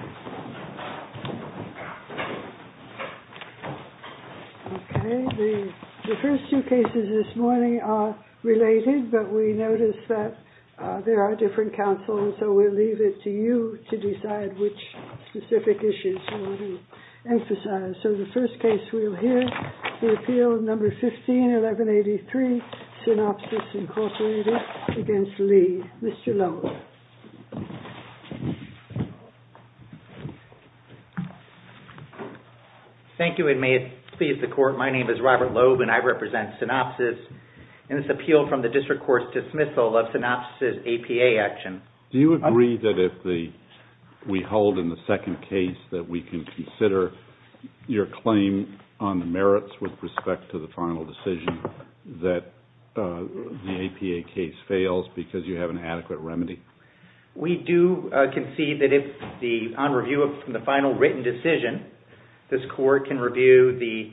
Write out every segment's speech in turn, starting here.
Okay, the first two cases this morning are related, but we noticed that there are different counsels, so we'll leave it to you to decide which specific issues you want to emphasize. So the first case we'll hear is the Appeal No. 15-1183, Synopsys, Inc. v. Lee. Mr. Lowe. Robert Loeb Thank you, and may it please the Court, my name is Robert Loeb and I represent Synopsys in this appeal from the District Court's dismissal of Synopsys' APA action. Judge Goldberg Do you agree that if we hold in the second case that we can consider your claim on the merits with respect to the final decision that the APA case fails because you have an adequate remedy? Robert Loeb We do concede that if on review of the final written decision, this Court can review the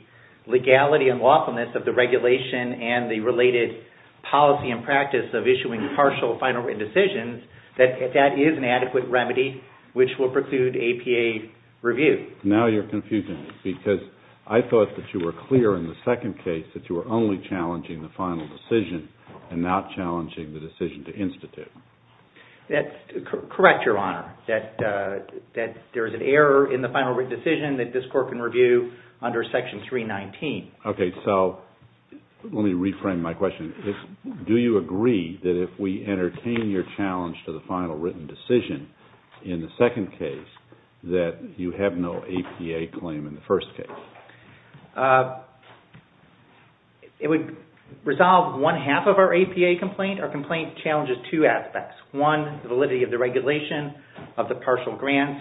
legality and lawfulness of the regulation and the related policy and practice of issuing partial final written decisions, that that is an adequate remedy which will preclude APA review. Judge Goldberg Now you're confusing me because I thought that you were clear in the second case that you were only challenging the final decision and not challenging the decision to institute. Robert Loeb That's correct, Your Honor, that there is an error in the final written decision that this Court can review under Section 319. Judge Goldberg Okay, so let me reframe my question. Do you agree that if we entertain your challenge to the final written decision in the second case that you have no APA claim in the first case? Robert Loeb It would resolve one half of our APA complaint. Our complaint challenges two aspects. One, the validity of the regulation of the partial grants.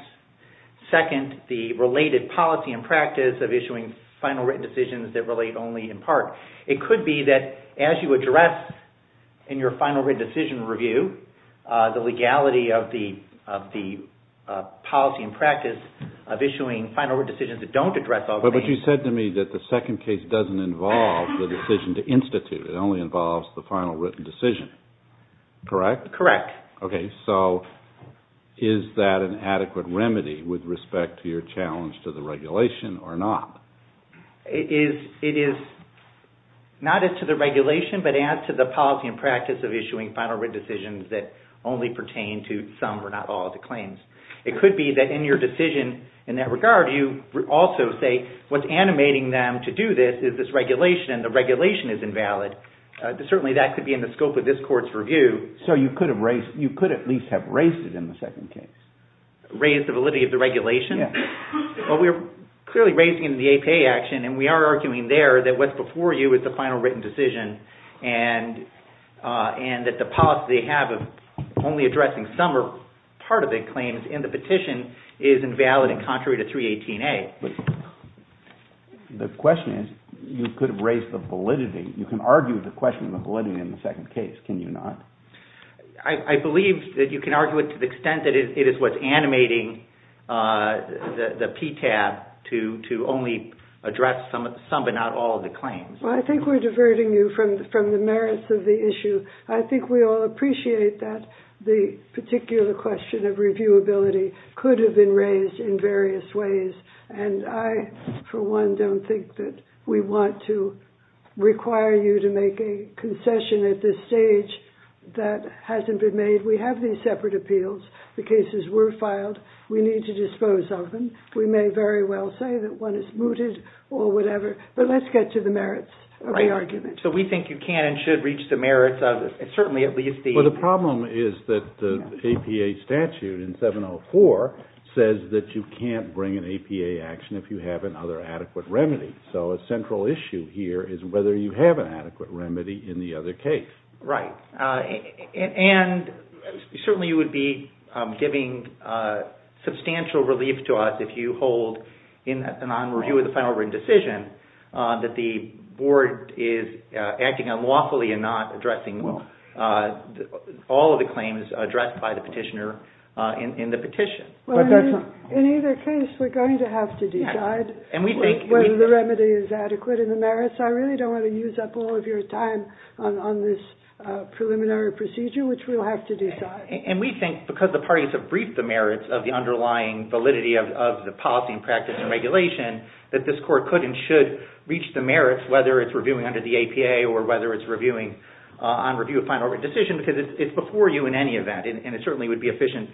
Second, the related policy and practice of issuing final written decisions that relate only in part. It could be that as you address in your final written decision review the legality of the policy and practice of issuing final written decisions that don't address all claims. Judge Goldberg But you said to me that the second case doesn't involve the decision to institute. It only involves the final written decision, correct? Robert Loeb Correct. Judge Goldberg Okay, so is that an adequate remedy with respect to your challenge to the regulation or not? Robert Loeb It is not as to the regulation but as to the policy and practice of issuing final written decisions that only pertain to some or not What's animating them to do this is this regulation and the regulation is invalid. Certainly that could be in the scope of this court's review. Judge Goldberg So you could at least have raised it in the second case? Robert Loeb Raised the validity of the regulation? Judge Goldberg Yes. Robert Loeb Well, we're clearly raising the APA action and we are arguing there that what's before you is the final written decision and that the policy they have of only addressing some or part of the claims in the petition is invalid contrary to 318A. Judge Goldberg The question is you could have raised the validity. You can argue the question of the validity in the second case, can you not? Robert Loeb I believe that you can argue it to the extent that it is what's animating the PTAB to only address some but not all of the claims. Judge Goldberg Well, I think we're diverting you from the merits of the issue. I think we all appreciate that the particular question of reviewability could have been raised in various ways and I, for one, don't think that we want to require you to make a concession at this stage that hasn't been made. We have these separate appeals. The cases were filed. We need to dispose of them. We may very well say that one is mooted or whatever, but let's get to the merits of the argument. Robert Loeb So we think you can and should reach the merits of it, certainly at least the… says that you can't bring an APA action if you have another adequate remedy. So a central issue here is whether you have an adequate remedy in the other case. Judge Goldberg Right, and certainly you would be giving substantial relief to us if you hold in an on review of the final written decision that the board is acting unlawfully and not addressing all of the claims addressed by the petitioner in the petition. Robert Loeb In either case, we're going to have to decide whether the remedy is adequate in the merits. I really don't want to use up all of your time on this preliminary procedure, which we'll have to decide. Judge Goldberg And we think because the parties have briefed the merits of the underlying validity of the policy and practice and regulation, that this court could and should reach the merits, whether it's reviewing under the APA or whether it's reviewing on review of final decision, because it's before you in any event and it certainly would be efficient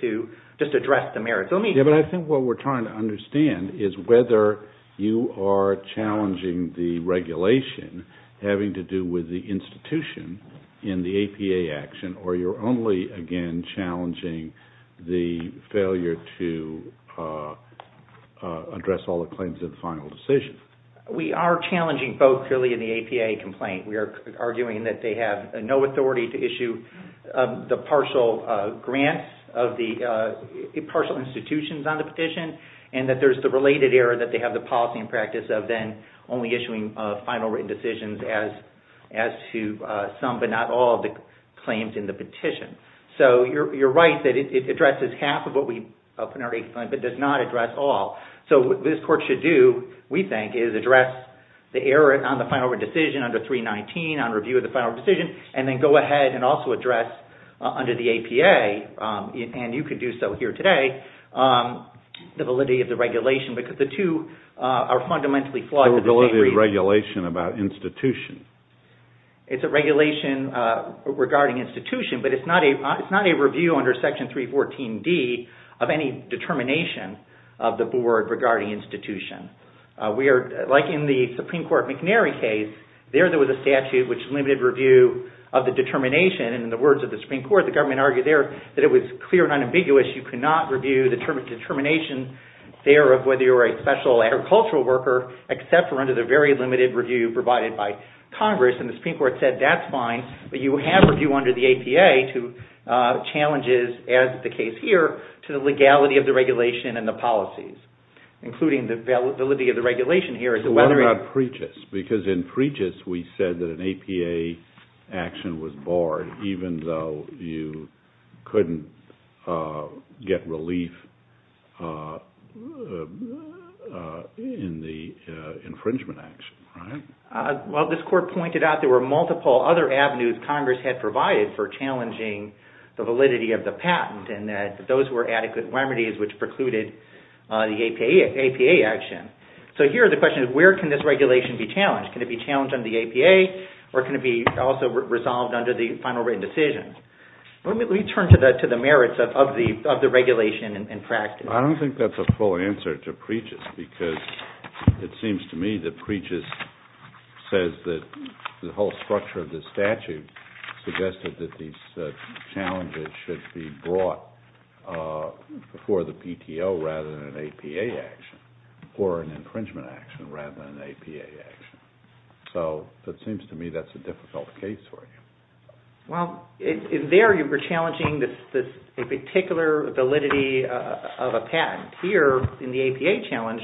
to just address the merits. Robert Loeb Yeah, but I think what we're trying to understand is whether you are challenging the regulation having to do with the institution in the APA action or you're only again challenging the failure to address all the claims of the final decision. Judge Goldberg We are challenging both clearly in the APA complaint. We are arguing that they have no authority to issue the partial grants of the partial institutions on the petition and that there's the related error that they have the policy and practice of then only issuing final written decisions as to some but not all of the claims in the petition. So you're right that it addresses half of what we open our APA complaint but does not address all. So what this court should do, we think, is address the error on the final decision under 319 on review of the final decision and then go ahead and also address under the APA, and you could do so here today, the validity of the regulation because the two are fundamentally flawed. Robert Loeb So the validity of the regulation about institution? Judge Goldberg It's a regulation regarding institution but it's not a review under section 314D of any determination of the board regarding institution. We are, like in the Supreme Court McNary case, there was a statute which limited review of the determination and in the words of the Supreme Court, the government argued there that it was clear and unambiguous. You cannot review the determination there of whether you're a special agricultural worker except for under the very limited review provided by Congress and the Supreme Court said that's fine but you have review under the APA to address the challenges as the case here to the legality of the regulation and the policies, including the validity of the regulation here. Robert Loeb So what about PREGIS? Because in PREGIS we said that an APA action was barred even though you couldn't get relief in the infringement action, right? Judge Goldberg Well, this court pointed out there were multiple other avenues Congress had provided for challenging the validity of the patent and that those were adequate remedies which precluded the APA action. So here the question is where can this regulation be challenged? Can it be challenged under the APA or can it be also resolved under the final written decision? Let me turn to the merits of the regulation in practice. Robert Loeb I don't think that's a full answer to PREGIS because it seems to me that PREGIS says that the whole structure of the statute suggested that these challenges should be brought before the PTO rather than an APA action or an infringement action rather than an APA action. So it seems to me that's a difficult case for you. Judge Goldberg Well, there you were challenging a particular validity of a patent. Here in the APA challenge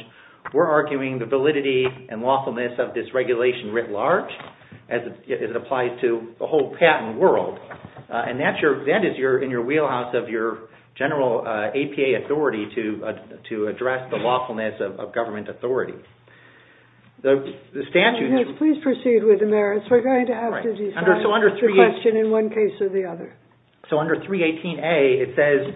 we're arguing the validity and lawfulness of this regulation writ large as it applies to the whole patent world and that is in your wheelhouse of your general APA authority to address the lawfulness of government authority. The statute... Judge Goldberg Please proceed with the merits. We're going to have to decide the question in one case or the other. So under 318A it says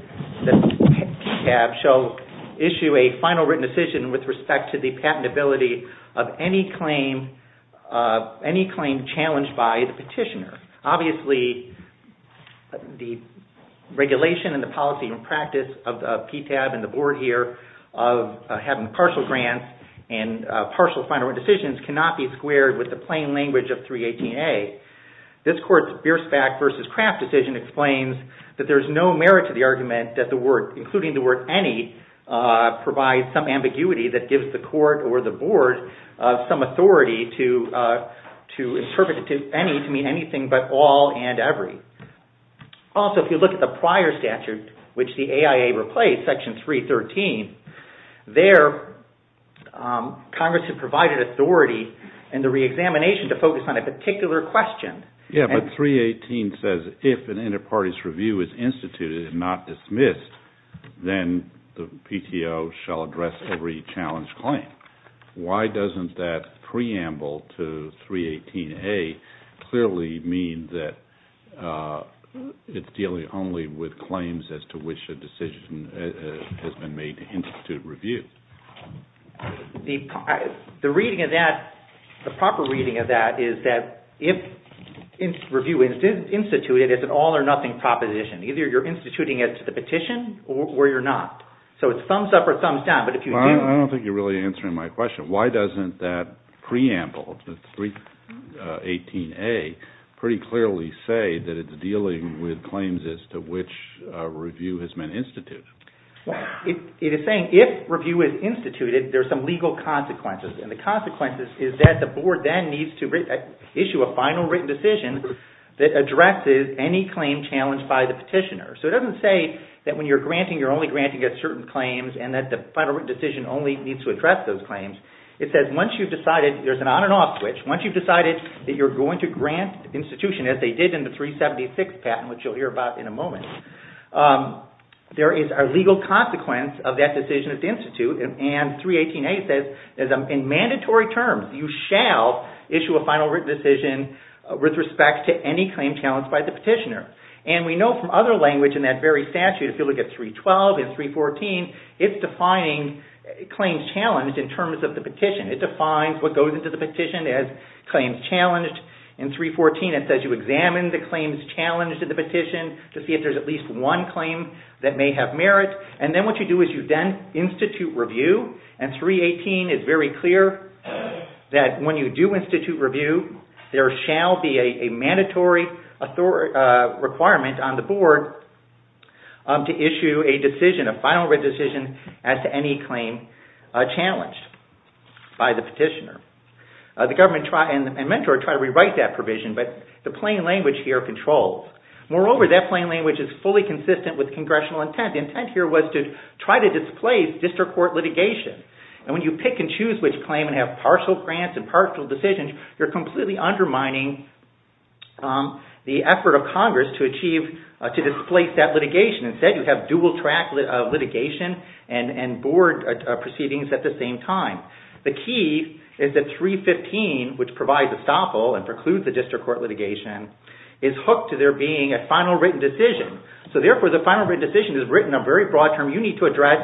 PTAB shall issue a final written decision with respect to the patentability of any claim challenged by the petitioner. Obviously the regulation and the policy and practice of PTAB and the board here of having partial grants and partial final written decisions cannot be squared with the plain language of 318A. This court's Bierstadt v. Kraft decision explains that there's no merit to the argument that the word, including the word any, provides some ambiguity that gives the court or the board some authority to interpret any to mean anything but all and every. Also if you look at the prior statute which the AIA replaced, section 313, there Congress had provided authority in the re-examination to focus on a particular question. Judge Goldberg Yeah, but 318 says if an inter-party's review is instituted and not dismissed, then the PTO shall address every challenged claim. Why doesn't that preamble to 318A clearly mean that it's dealing only with claims as to which a decision has been made to institute review? The reading of that, the proper reading of that is that if review is instituted, it's an all or nothing proposition. Either you're instituting it to the petition or you're not. So it's thumbs up or thumbs down, but if you do... Judge Goldberg I don't think you're really answering my question. Why doesn't that preamble, 318A, pretty clearly say that it's dealing with claims as to which a review has been instituted? Judge Goldberg It is saying if review is instituted, there's some legal consequences, and the consequences is that the board then needs to issue a final written decision that addresses any claim challenged by the petitioner. So it doesn't say that when you're granting, you're only granting at certain claims and that the final written decision only needs to address those claims. It says once you've decided, there's an on and off switch, once you've decided that you're going to grant institution as they did in the 376 patent, which you'll hear about in a moment. There is a legal consequence of that decision at the institute, and 318A says in mandatory terms, you shall issue a final written decision with respect to any claim challenged by the petitioner. And we know from other language in that very statute, if you look at 312 and 314, it's defining claims challenged in terms of the petition. It defines what goes into the petition as you examine the claims challenged in the petition to see if there's at least one claim that may have merit. And then what you do is you then institute review, and 318 is very clear that when you do institute review, there shall be a mandatory requirement on the board to issue a decision, a final written decision as to any claim challenged by the petitioner. The government and mentor try to rewrite that provision, but the plain language here controls. Moreover, that plain language is fully consistent with congressional intent. The intent here was to try to displace district court litigation. And when you pick and choose which claim and have partial grants and partial decisions, you're completely undermining the effort of Congress to achieve, to displace that litigation. Instead, you have dual track litigation and board proceedings at the same time. The key is that 315, which provides a stopple and precludes the district court litigation, is hooked to there being a final written decision. So therefore, the final written decision is written a very broad term. You need to address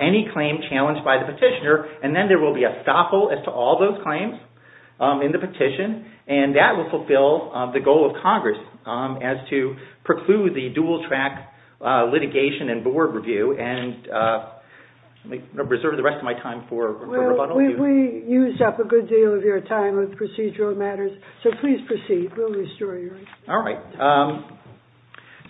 any claim challenged by the petitioner, and then there will be a stopple as to all those claims in the petition. And that will fulfill the goal of Congress as to preclude the dual track litigation and board review. And I reserve the rest of my time for rebuttal. Well, we used up a good deal of your time with procedural matters, so please proceed. We'll restore your time. All right.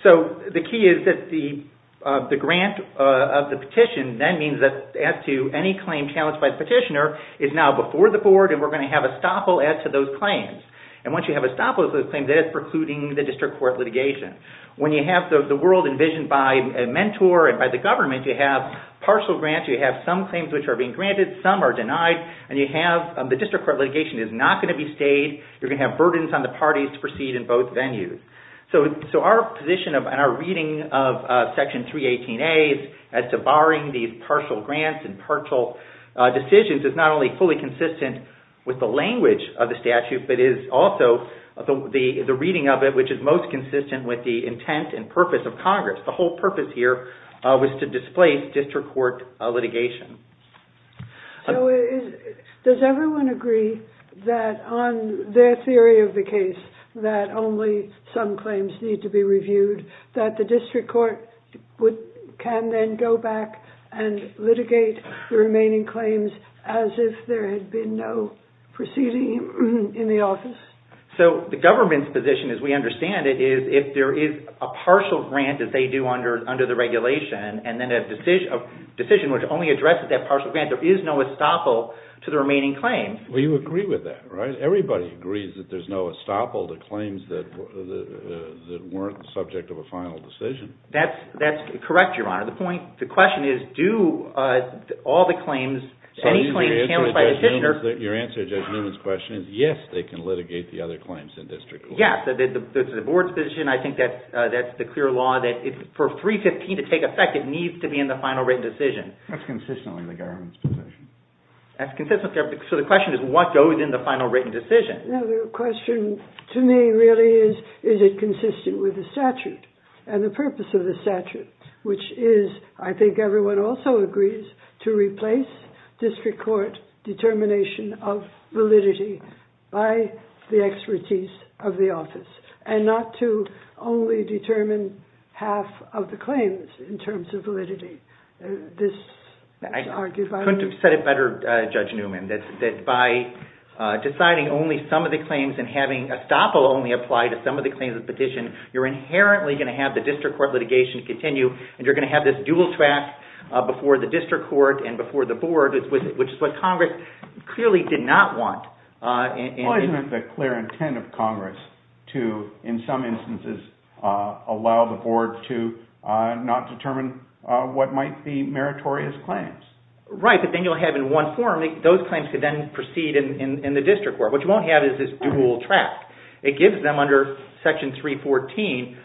So the key is that the grant of the petition, that means that as to any claim challenged by the petitioner, is now before the board, and we're going to have a stopple as to those claims. And once you have a stopple as to those claims, that is precluding the world envisioned by a mentor and by the government. You have partial grants, you have some claims which are being granted, some are denied, and the district court litigation is not going to be stayed. You're going to have burdens on the parties to proceed in both venues. So our position and our reading of Section 318As as to barring these partial grants and partial decisions is not only fully consistent with the language of the statute, but is also the reading of it which is most consistent with the intent and purpose of Congress. The whole purpose here was to displace district court litigation. So does everyone agree that on their theory of the case that only some claims need to be reviewed, that the district court can then go back and litigate the remaining claims as if there had been no proceeding in the office? So the government's position, as we understand it, is if there is a partial grant that they do under the regulation, and then a decision which only addresses that partial grant, there is no estoppel to the remaining claims. Well, you agree with that, right? Everybody agrees that there's no estoppel to claims that weren't the subject of a final decision. That's correct, Your Honor. The point, the question is do all the claims, any claims canceled by the district court... Your answer to Judge Newman's question is yes, they can litigate the other claims in district court. Yes, the board's position, I think that's the clear law that for 315 to take effect, it needs to be in the final written decision. That's consistently the government's position. That's consistently the government's. So the question is what goes in the final written decision. The question to me really is, is it consistent with the statute and the purpose of the statute, which is, I think everyone also agrees, to replace district court determination of validity by the expertise of the office, and not to only determine half of the claims in terms of validity. I couldn't have said it better, Judge Newman, that by deciding only some of the claims and having estoppel only apply to some of the claims in the petition, you're inherently going to have the district court litigation continue, and you're going to have this dual track before the district court and before the board, which is what Congress clearly did not want. It wasn't the clear intent of Congress to, in some instances, allow the board to not write the meritorious claims. Right, but then you'll have in one form, those claims could then proceed in the district court. What you won't have is this dual track. It gives them under Section 314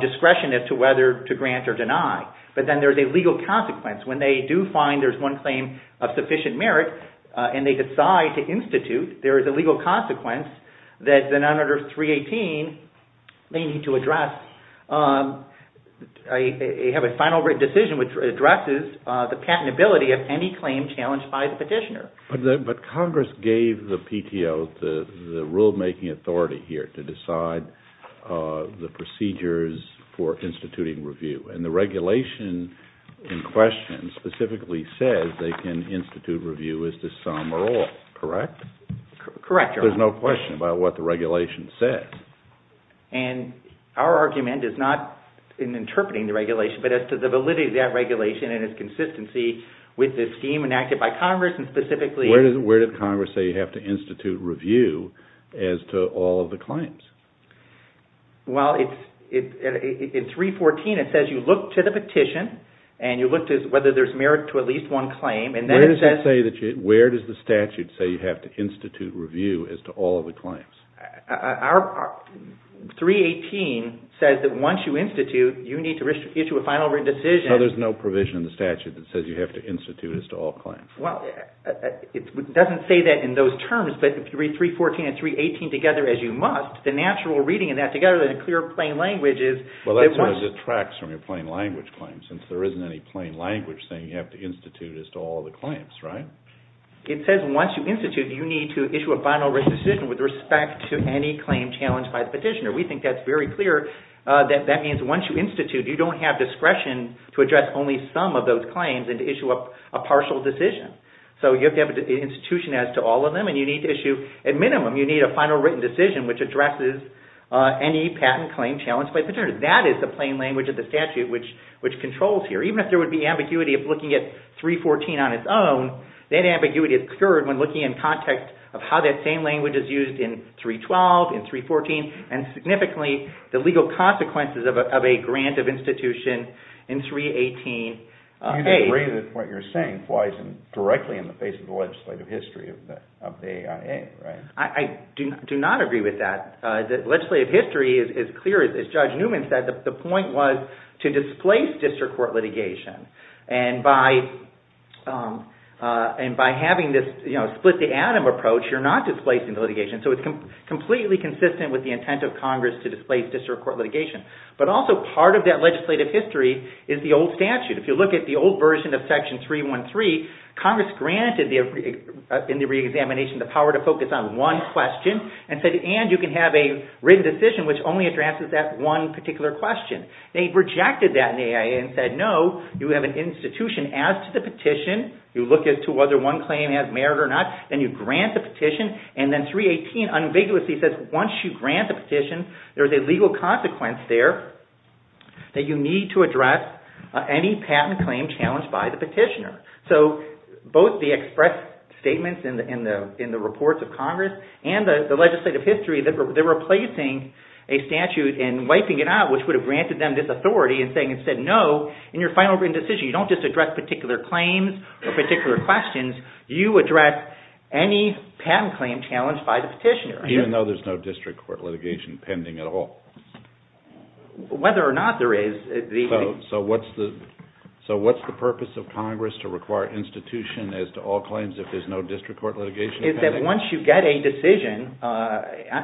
discretion as to whether to grant or deny, but then there's a legal consequence. When they do find there's one claim of sufficient merit, and they decide to institute, there is a legal consequence that then under 318, they need to address, have a final written decision which addresses the patentability of any claim challenged by the petitioner. But Congress gave the PTO the rulemaking authority here to decide the procedures for instituting review, and the regulation in question specifically says they can institute review as to some or all, correct? Correct, Your Honor. There's no question about what the regulation says. And our argument is not in interpreting the regulation, but as to the validity of that regulation and its consistency with the scheme enacted by Congress, and specifically... Where did Congress say you have to institute review as to all of the claims? Well, in 314, it says you look to the petition, and you look to whether there's merit to at least one claim, and then it says... Our 318 says that once you institute, you need to issue a final written decision... So there's no provision in the statute that says you have to institute as to all claims? Well, it doesn't say that in those terms, but if you read 314 and 318 together as you must, the natural reading of that together in a clear, plain language is... Well, that's what it detracts from your plain language claim, since there isn't any plain language saying you have to institute as to all the claims, right? It says once you institute, you need to issue a final written decision with respect to any claim challenged by the petitioner. We think that's very clear. That means once you institute, you don't have discretion to address only some of those claims and to issue a partial decision. So you have to have an institution as to all of them, and you need to issue... At minimum, you need a final written decision which addresses any patent claim challenged by the petitioner. That is the plain language of the statute which controls here. Even if there would be ambiguity of looking at 314 on its own, that ambiguity is obscured when looking in context of how that same language is used in 312, in 314, and significantly the legal consequences of a grant of institution in 318A. You disagree that what you're saying flies directly in the face of the legislative history of the AIA, right? I do not agree with that. The legislative history is clear. As Judge Newman said, the point was to displace district court litigation. And by having this split-the-atom approach, you're not displacing the litigation. So it's completely consistent with the intent of Congress to displace district court litigation. But also part of that legislative history is the old statute. If you look at the old version of Section 313, Congress granted in the re-examination the power to focus on one question and said, and you can have a written decision which only addresses that one particular question. They rejected that in the AIA and said, no, you have an institution as to the petition, you look as to whether one claim has merit or not, and you grant the petition. And then 318 unambiguously says once you grant the petition, there's a legal consequence there that you need to address any patent claim challenged by the petitioner. So both the express statements in the reports of Congress and the legislative history, they're replacing a statute and wiping it out, which would have granted them this authority and said, no, in your final written decision, you don't just address particular claims or particular questions, you address any patent claim challenged by the petitioner. Even though there's no district court litigation pending at all? Whether or not there is. So what's the purpose of Congress to require institution as to all claims if there's no district court litigation pending? The point is that once you get a decision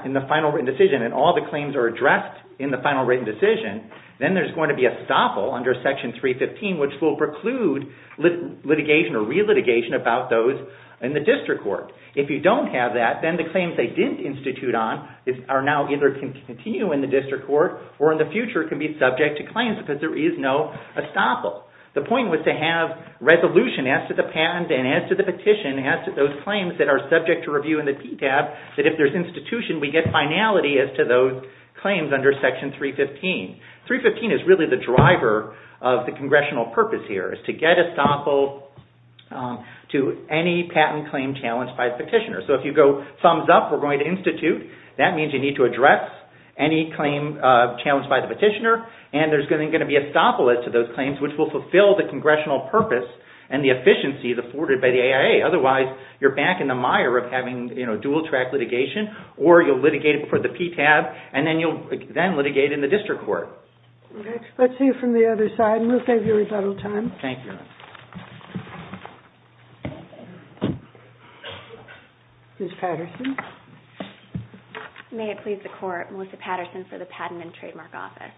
in the final written decision and all the claims are addressed in the final written decision, then there's going to be a staffle under Section 315 which will preclude litigation or relitigation about those in the district court. If you don't have that, then the claims they didn't institute on are now either continue in the district court or in the future can be subject to claims because there is no estoppel. The point was to have resolution as to the patent and as to the petition and as to those claims that are subject to review in the PTAB that if there's institution, we get finality as to those claims under Section 315. 315 is really the driver of the congressional purpose here. It's to get estoppel to any patent claim challenged by the petitioner. So if you go thumbs up, we're going to institute. That means you need to address any claim challenged by the petitioner and there's going to be estoppel as to those claims which will fulfill the congressional purpose and the efficiency afforded by the AIA. Otherwise, you're back in the mire of having dual-track litigation or you'll litigate for the PTAB and then you'll then litigate in the district court. Next, let's hear from the other side and we'll save you rebuttal time. Thank you. Ms. Patterson. May it please the Court, Melissa Patterson for the Patent and Trademark Office.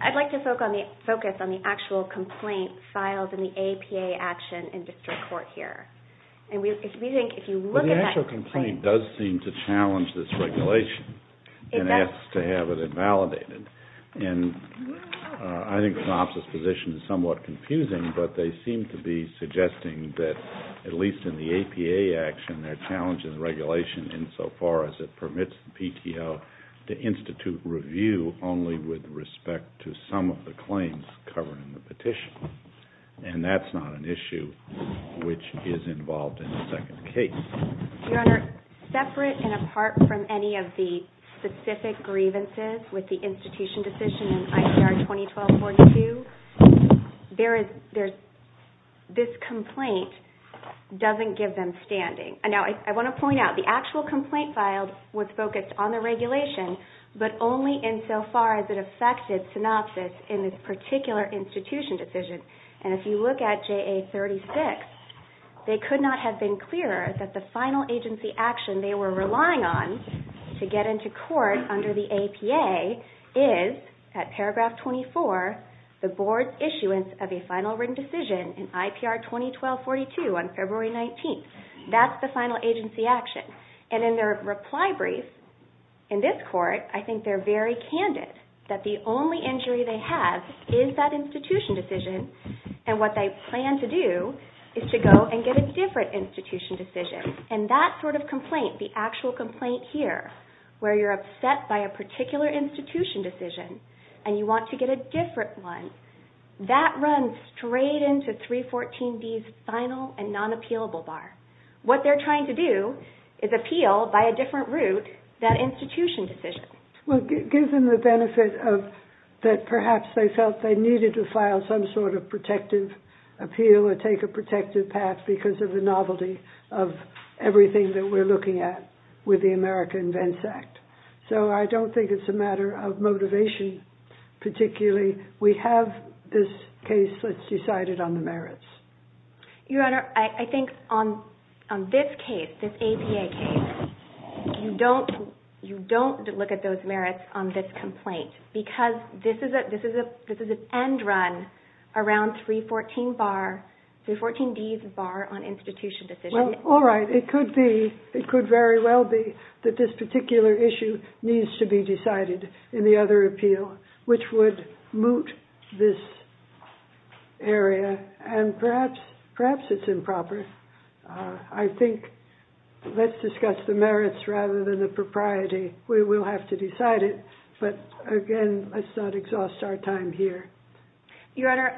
I'd like to focus on the actual complaint filed in the APA action in district court here. The actual complaint does seem to challenge this regulation and asks to have it invalidated. I think the Office's position is somewhat confusing, but they seem to be suggesting that at least in the APA action, they're challenging the regulation insofar as it permits the PTO to institute review only with respect to some of the claims covered in the petition and that's not an issue which is involved in the second case. Your Honor, separate and apart from any of the specific grievances with the institution decision in ICR 2012-42, this complaint doesn't give them standing. Now, I want to point out the actual complaint filed was focused on the regulation, but only insofar as it affected synopsis in this particular institution decision. And if you look at JA 36, they could not have been clearer that the final agency action they were relying on to get into court under the APA is, at paragraph 24, the Board's issuance of a final written decision in IPR 2012-42 on February 19th. That's the final agency action. And in their reply brief in this court, I think they're very candid that the only injury they have is that institution decision and what they plan to do is to go and get a different institution decision. And that sort of complaint, the actual complaint here, where you're upset by a particular institution decision and you want to get a different one, that runs straight into 314D's final and non-appealable bar. What they're trying to do is appeal by a different route than institution decision. Well, it gives them the benefit that perhaps they felt they needed to file some sort of protective appeal or take a protective path because of the novelty of everything that we're looking at with the America Invents Act. So I don't think it's a matter of motivation particularly. We have this case that's decided on the merits. Your Honor, I think on this case, this APA case, you don't look at those merits on this complaint because this is an end run around 314D's bar on institution decision. Well, all right. It could very well be that this particular issue needs to be decided in the other appeal, which would moot this area. And perhaps it's improper. I think let's discuss the merits rather than the propriety. We will have to decide it. But again, let's not exhaust our time here. Your Honor,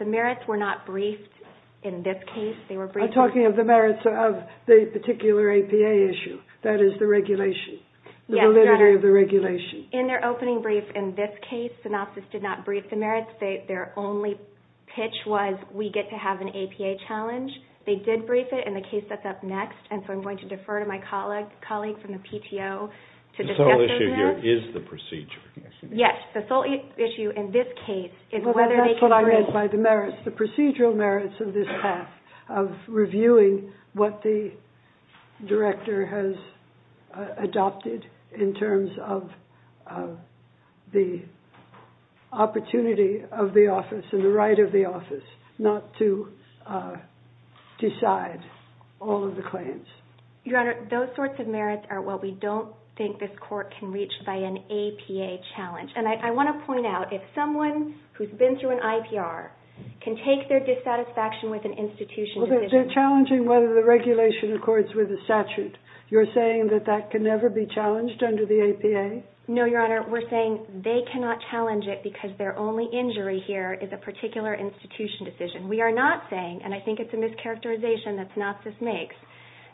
the merits were not briefed in this case. I'm talking of the merits of the particular APA issue. That is the regulation, the validity of the regulation. In their opening brief in this case, Synopsys did not brief the merits. Their only pitch was we get to have an APA challenge. They did brief it in the case that's up next, and so I'm going to defer to my colleague from the PTO to discuss that. The sole issue here is the procedure. Yes, the sole issue in this case is whether they can bring it. Well, that's what I meant by the merits, the procedural merits of this path of reviewing what the director has adopted in terms of the opportunity of the office and the right of the office not to decide all of the claims. Your Honor, those sorts of merits are what we don't think this court can reach by an APA challenge. And I want to point out, if someone who's been through an IPR can take their dissatisfaction with an institution Well, they're challenging whether the regulation accords with the statute. You're saying that that can never be challenged under the APA? No, Your Honor, we're saying they cannot challenge it because their only injury here is a particular institution decision. We are not saying, and I think it's a mischaracterization that Synopsys makes,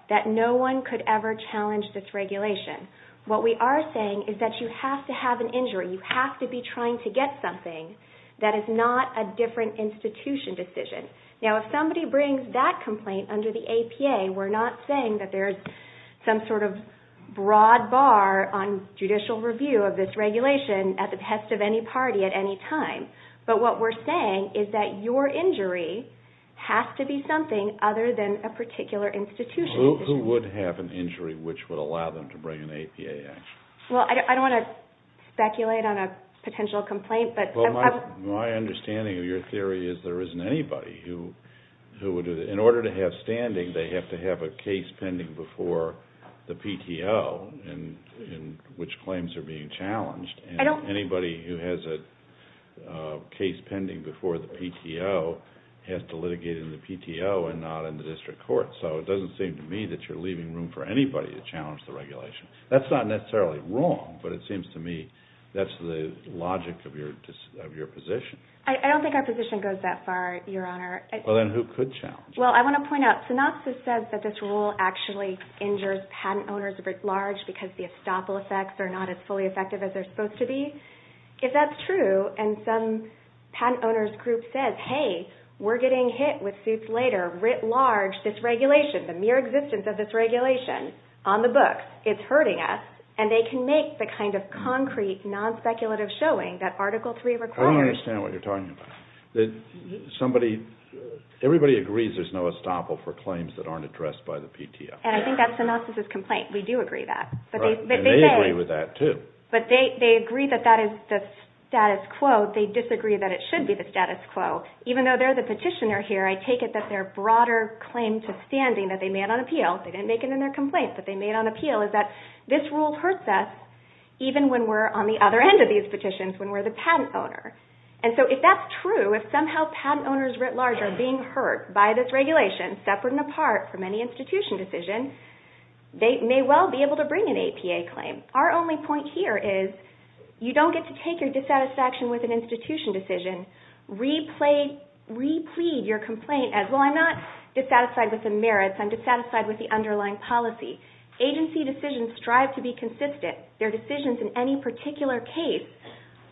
that no one could ever challenge this regulation. What we are saying is that you have to have an injury. You have to be trying to get something that is not a different institution decision. Now, if somebody brings that complaint under the APA, we're not saying that there's some sort of broad bar on judicial review of this regulation at the behest of any party at any time. But what we're saying is that your injury has to be something other than a particular institution. Who would have an injury which would allow them to bring an APA action? Well, I don't want to speculate on a potential complaint, but Well, my understanding of your theory is there isn't anybody who would do that. My understanding, they have to have a case pending before the PTO, which claims are being challenged. Anybody who has a case pending before the PTO has to litigate in the PTO and not in the district court. So it doesn't seem to me that you're leaving room for anybody to challenge the regulation. That's not necessarily wrong, but it seems to me that's the logic of your position. I don't think our position goes that far, Your Honor. Well, then who could challenge it? Well, I want to point out, synopsis says that this rule actually injures patent owners writ large because the estoppel effects are not as fully effective as they're supposed to be. If that's true and some patent owner's group says, Hey, we're getting hit with suits later, writ large, this regulation, the mere existence of this regulation on the books, it's hurting us, and they can make the kind of concrete, non-speculative showing that Article III requires I don't understand what you're talking about. Everybody agrees there's no estoppel for claims that aren't addressed by the PTO. And I think that's synopsis' complaint. We do agree that. And they agree with that, too. But they agree that that is the status quo. They disagree that it should be the status quo. Even though they're the petitioner here, I take it that their broader claim to standing that they made on appeal, they didn't make it in their complaint, but they made on appeal, is that this rule hurts us even when we're on the other end of these petitions when we're the patent owner. And so if that's true, if somehow patent owners writ large are being hurt by this regulation, separate and apart from any institution decision, they may well be able to bring an APA claim. Our only point here is you don't get to take your dissatisfaction with an institution decision, replead your complaint as, well, I'm not dissatisfied with the merits, I'm dissatisfied with the underlying policy. Agency decisions strive to be consistent. Their decisions in any particular case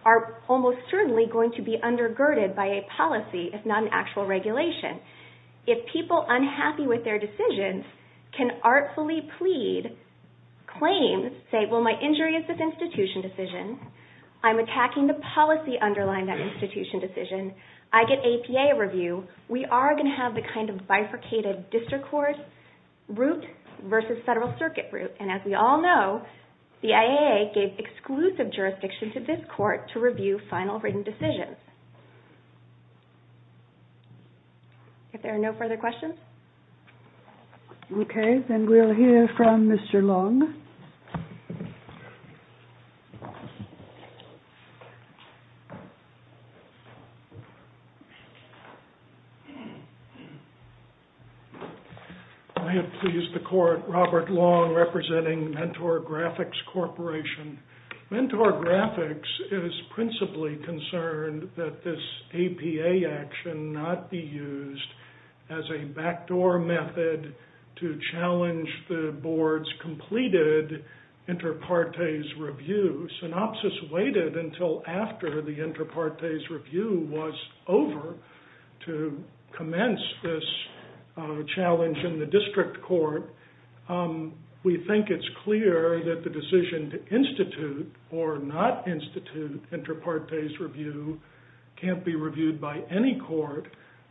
are almost certainly going to be undergirded by a policy, if not an actual regulation. If people unhappy with their decisions can artfully plead, claim, say, well, my injury is this institution decision. I'm attacking the policy underlying that institution decision. I get APA review. We are going to have the kind of bifurcated district court route versus federal circuit route. And as we all know, the IAA gave exclusive jurisdiction to this court to review final written decisions. If there are no further questions. Okay. Then we'll hear from Mr. Long. I have pleased the court. Robert Long representing Mentor Graphics Corporation. Mentor Graphics is principally concerned that this APA action not be used as a backdoor method to challenge the board's completed inter partes review. Synopsis waited until after the inter partes review was over to commence this challenge in the district court. We think it's clear that the decision to institute or not institute inter partes review can't be reviewed by any court.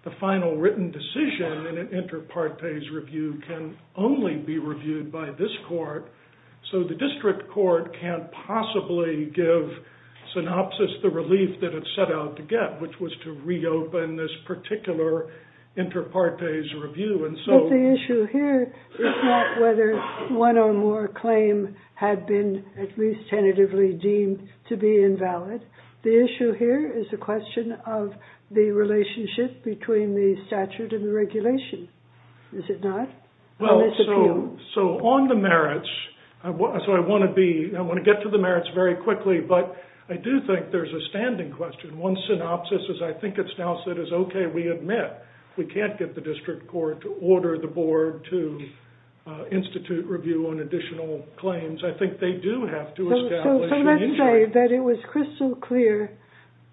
The final written decision in an inter partes review can only be reviewed by this court. So the district court can't possibly give synopsis the relief that it set out to get, which was to reopen this particular inter partes review. The issue here is not whether one or more claim had been at least tentatively deemed to be invalid. The issue here is the question of the relationship between the statute and the regulation. Is it not? So on the merits, I want to get to the merits very quickly, but I do think there's a standing question. One synopsis is I think it's now said it's okay we admit we can't get the district court to order the board to institute review on additional claims. I think they do have to establish the issue. I would say that it was crystal clear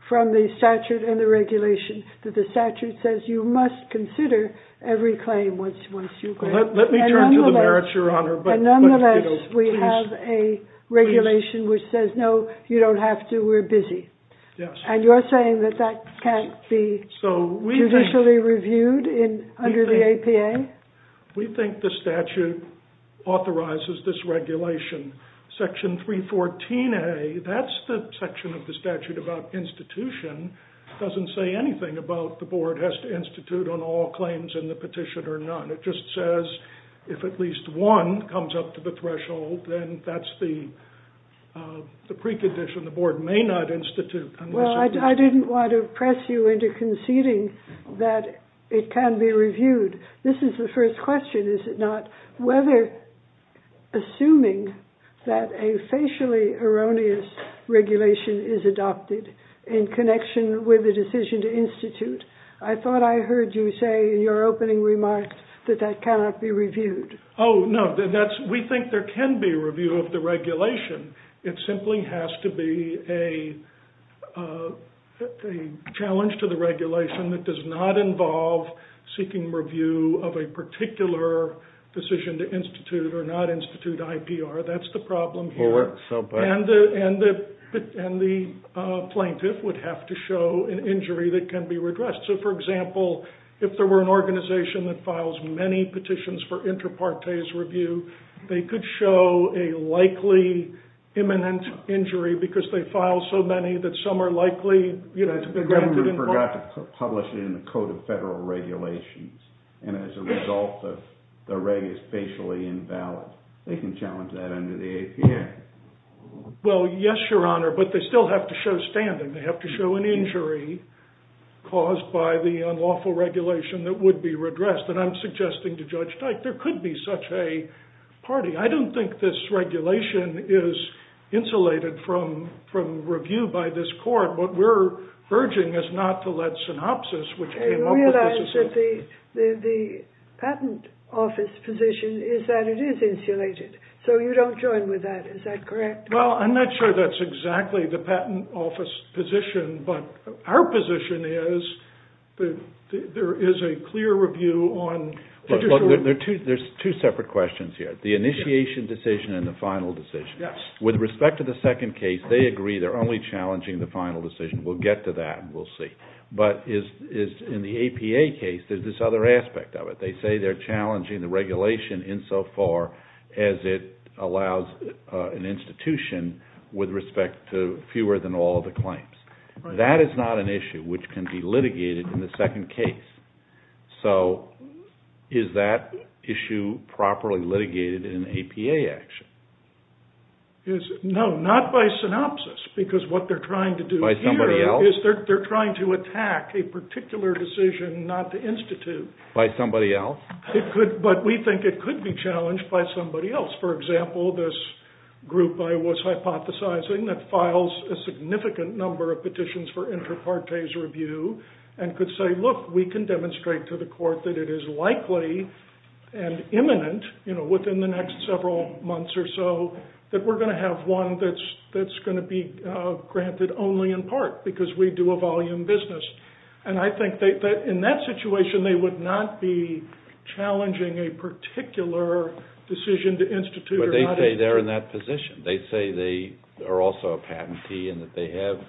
from the statute and the regulation that the statute says you must consider every claim once you claim it. Let me turn to the merits, your honor. Nonetheless, we have a regulation which says no, you don't have to, we're busy. And you're saying that that can't be judicially reviewed under the APA? We think the statute authorizes this regulation. Section 314A, that's the section of the statute about institution. It doesn't say anything about the board has to institute on all claims in the petition or none. It just says if at least one comes up to the threshold, then that's the precondition. The board may not institute. Well, I didn't want to press you into conceding that it can be reviewed. This is the first question, is it not? Whether assuming that a facially erroneous regulation is adopted in connection with a decision to institute. I thought I heard you say in your opening remarks that that cannot be reviewed. Oh, no. We think there can be review of the regulation. It simply has to be a challenge to the regulation that does not involve seeking review of a particular decision to institute or not institute IPR. That's the problem here. And the plaintiff would have to show an injury that can be redressed. So, for example, if there were an organization that files many petitions for inter partes review, they could show a likely imminent injury because they file so many that some are likely to be granted involvement. You forgot to publish it in the Code of Federal Regulations. And as a result, the reg is facially invalid. They can challenge that under the APA. Well, yes, Your Honor, but they still have to show standing. They have to show an injury caused by the unlawful regulation that would be redressed. And I'm suggesting to Judge Dyke there could be such a party. I don't think this regulation is insulated from review by this court. What we're urging is not to let synopsis, which came up with this assessment. You realize that the patent office position is that it is insulated. So you don't join with that. Is that correct? Well, I'm not sure that's exactly the patent office position, but our position is that there is a clear review on There's two separate questions here, the initiation decision and the final decision. With respect to the second case, they agree they're only challenging the final decision. We'll get to that and we'll see. But in the APA case, there's this other aspect of it. They say they're challenging the regulation insofar as it allows an institution with respect to fewer than all the claims. That is not an issue which can be litigated in the second case. So is that issue properly litigated in APA action? No, not by synopsis, because what they're trying to do here is they're trying to attack a particular decision not to institute. By somebody else? But we think it could be challenged by somebody else. For example, this group I was hypothesizing that files a significant number of petitions for inter partes review and could say, look, we can demonstrate to the court that it is likely and imminent within the next several months or so that we're going to have one that's going to be granted only in part because we do a volume business. And I think that in that situation they would not be challenging a particular decision to institute. But they say they're in that position. They say they are also a patentee and that they have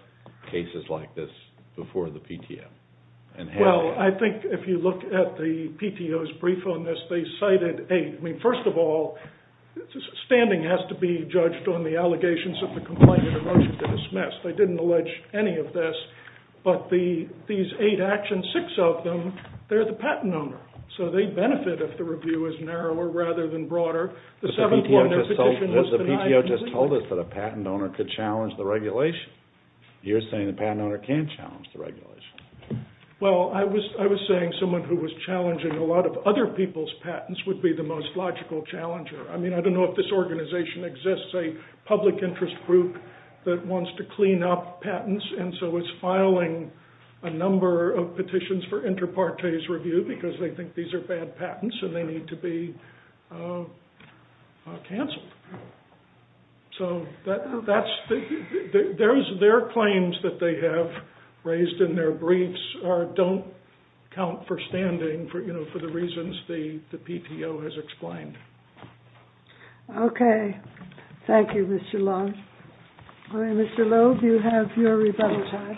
cases like this before the PTO. Well, I think if you look at the PTO's brief on this, they cited eight. First of all, standing has to be judged on the allegations of the complaint and the motion to dismiss. They didn't allege any of this, but these eight actions, six of them, they're the patent owner. So they benefit if the review is narrower rather than broader. The PTO just told us that a patent owner could challenge the regulation. You're saying the patent owner can't challenge the regulation. Well, I was saying someone who was challenging a lot of other people's patents would be the most logical challenger. I mean, I don't know if this organization exists, a public interest group that wants to clean up patents and so is filing a number of petitions for inter partes review because they think these are bad patents and they need to be canceled. So their claims that they have raised in their briefs don't count for standing for the reasons the PTO has explained. Okay. Thank you, Mr. Long. All right, Mr. Loeb, you have your rebuttal time.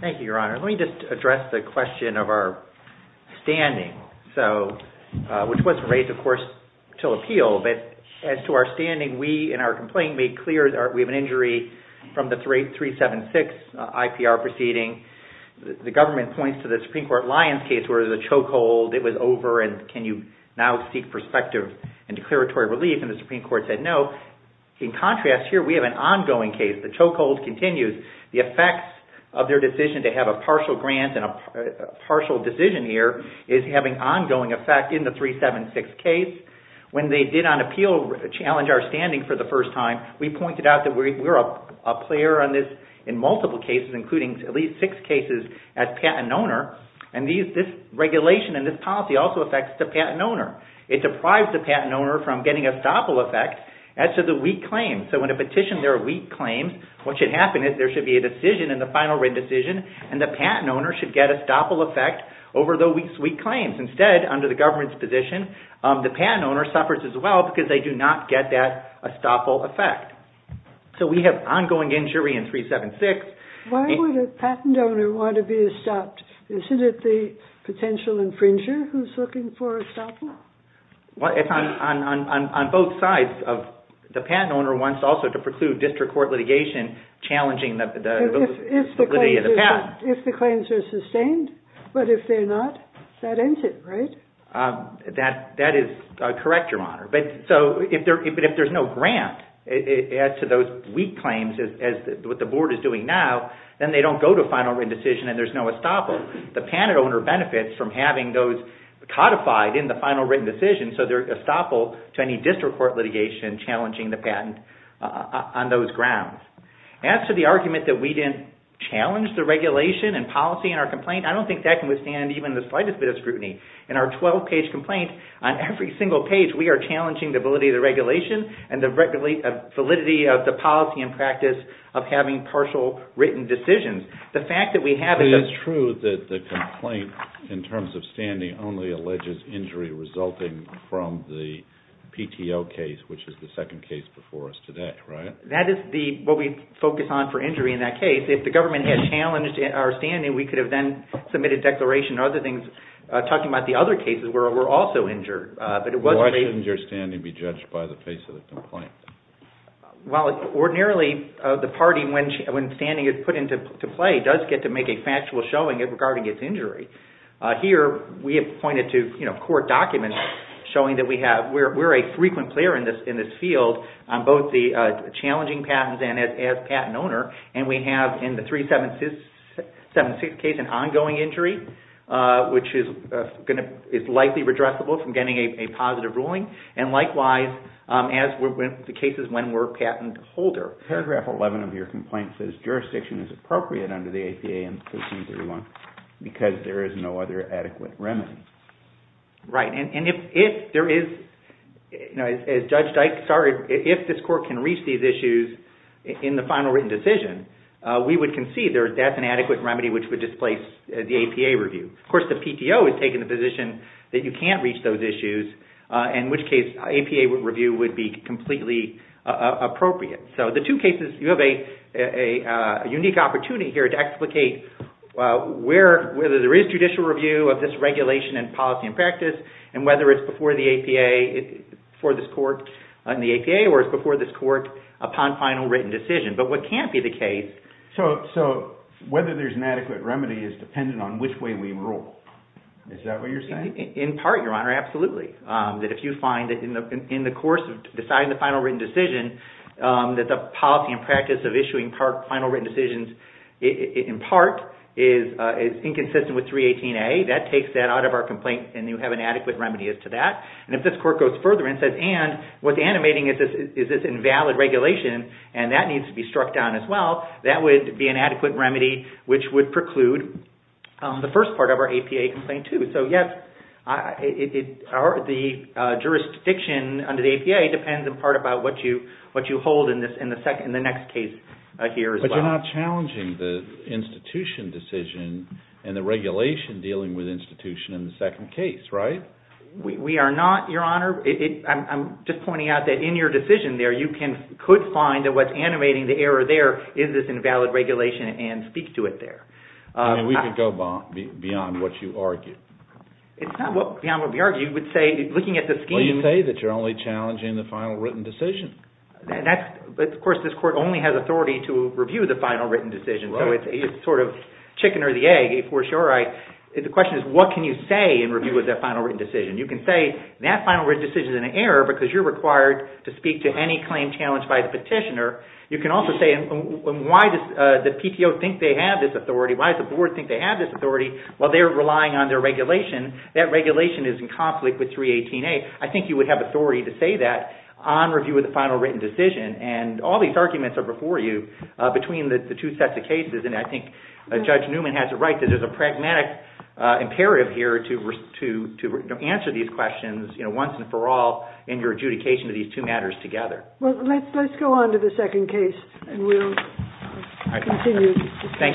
Thank you, Your Honor. Let me just address the question of our standing, which was raised, of course, to appeal. But as to our standing, we in our complaint made clear that we have an injury from the 376 IPR proceeding. The government points to the Supreme Court Lyons case where there was a choke hold. It was over and can you now seek perspective and declaratory relief? And the Supreme Court said no. In contrast here, we have an ongoing case. The choke hold continues. The effects of their decision to have a partial grant and a partial decision here is having ongoing effect in the 376 case. When they did on appeal challenge our standing for the first time, we pointed out that we're a player on this in multiple cases, including at least six cases as patent owner. And this regulation and this policy also affects the patent owner. It deprives the patent owner from getting a stoppable effect as to the weak claim. So when a petition, there are weak claims, what should happen is there should be a decision in the final written decision and the patent owner should get a stoppable effect over the weak claims. Instead, under the government's position, the patent owner suffers as well because they do not get that stoppable effect. So we have ongoing injury in 376. Why would a patent owner want to be stopped? Isn't it the potential infringer who's looking for a stopper? Well, it's on both sides. The patent owner wants also to preclude district court litigation challenging the validity of the patent. If the claims are sustained, but if they're not, that ends it, right? That is correct, Your Honor. But if there's no grant as to those weak claims as what the board is doing now, then they don't go to a final written decision and there's no stoppable. The patent owner benefits from having those codified in the final written decision, so they're stoppable to any district court litigation challenging the patent on those grounds. As to the argument that we didn't challenge the regulation and policy in our complaint, I don't think that can withstand even the slightest bit of scrutiny. In our 12-page complaint, on every single page we are challenging the validity of the regulation and the validity of the policy and practice of having partial written decisions. It is true that the complaint in terms of standing only alleges injury resulting from the PTO case, which is the second case before us today, right? That is what we focus on for injury in that case. If the government had challenged our standing, we could have then submitted a declaration talking about the other cases where we're also injured. Why shouldn't your standing be judged by the face of the complaint? Well, ordinarily the party, when standing is put into play, does get to make a factual showing regarding its injury. Here, we have pointed to court documents showing that we're a frequent player in this field on both the challenging patents and as patent owner. And we have in the 376 case an ongoing injury, which is likely redressable from getting a positive ruling. And likewise, as with the cases when we're patent holder. Paragraph 11 of your complaint says jurisdiction is appropriate under the APA in 1331 because there is no other adequate remedy. Right, and if there is, as Judge Dyke started, if this court can reach these issues in the final written decision, we would concede that's an adequate remedy which would displace the APA review. Of course, the PTO has taken the position that you can't reach those issues, in which case APA review would be completely appropriate. So the two cases, you have a unique opportunity here to explicate whether there is judicial review of this regulation in policy and practice and whether it's before the APA or it's before this court upon final written decision. But what can't be the case... So whether there's an adequate remedy is dependent on which way we rule. Is that what you're saying? In part, Your Honor, absolutely. That if you find that in the course of deciding the final written decision, that the policy and practice of issuing final written decisions in part is inconsistent with 318A, that takes that out of our complaint and you have an adequate remedy as to that. And if this court goes further and says, and what's animating is this invalid regulation and that needs to be struck down as well, that would be an adequate remedy which would preclude the first part of our APA complaint too. So yes, the jurisdiction under the APA depends in part about what you hold in the next case here as well. But you're not challenging the institution decision and the regulation dealing with institution in the second case, right? We are not, Your Honor. I'm just pointing out that in your decision there, you could find that what's animating the error there is this invalid regulation and speak to it there. I mean, we could go beyond what you argue. It's not beyond what we argue. Looking at the scheme... Well, you say that you're only challenging the final written decision. Of course, this court only has authority to review the final written decision. So it's sort of chicken or the egg, if we're sure. The question is, what can you say in review of that final written decision? You can say that final written decision is an error because you're required to speak to any claim challenged by the petitioner. You can also say, why does the PTO think they have this authority? Why does the board think they have this authority? Well, they're relying on their regulation. That regulation is in conflict with 318A. I think you would have authority to say that on review of the final written decision, and all these arguments are before you between the two sets of cases, and I think Judge Newman has it right that there's a pragmatic imperative here to answer these questions once and for all in your adjudication of these two matters together. Well, let's go on to the second case, and we'll continue.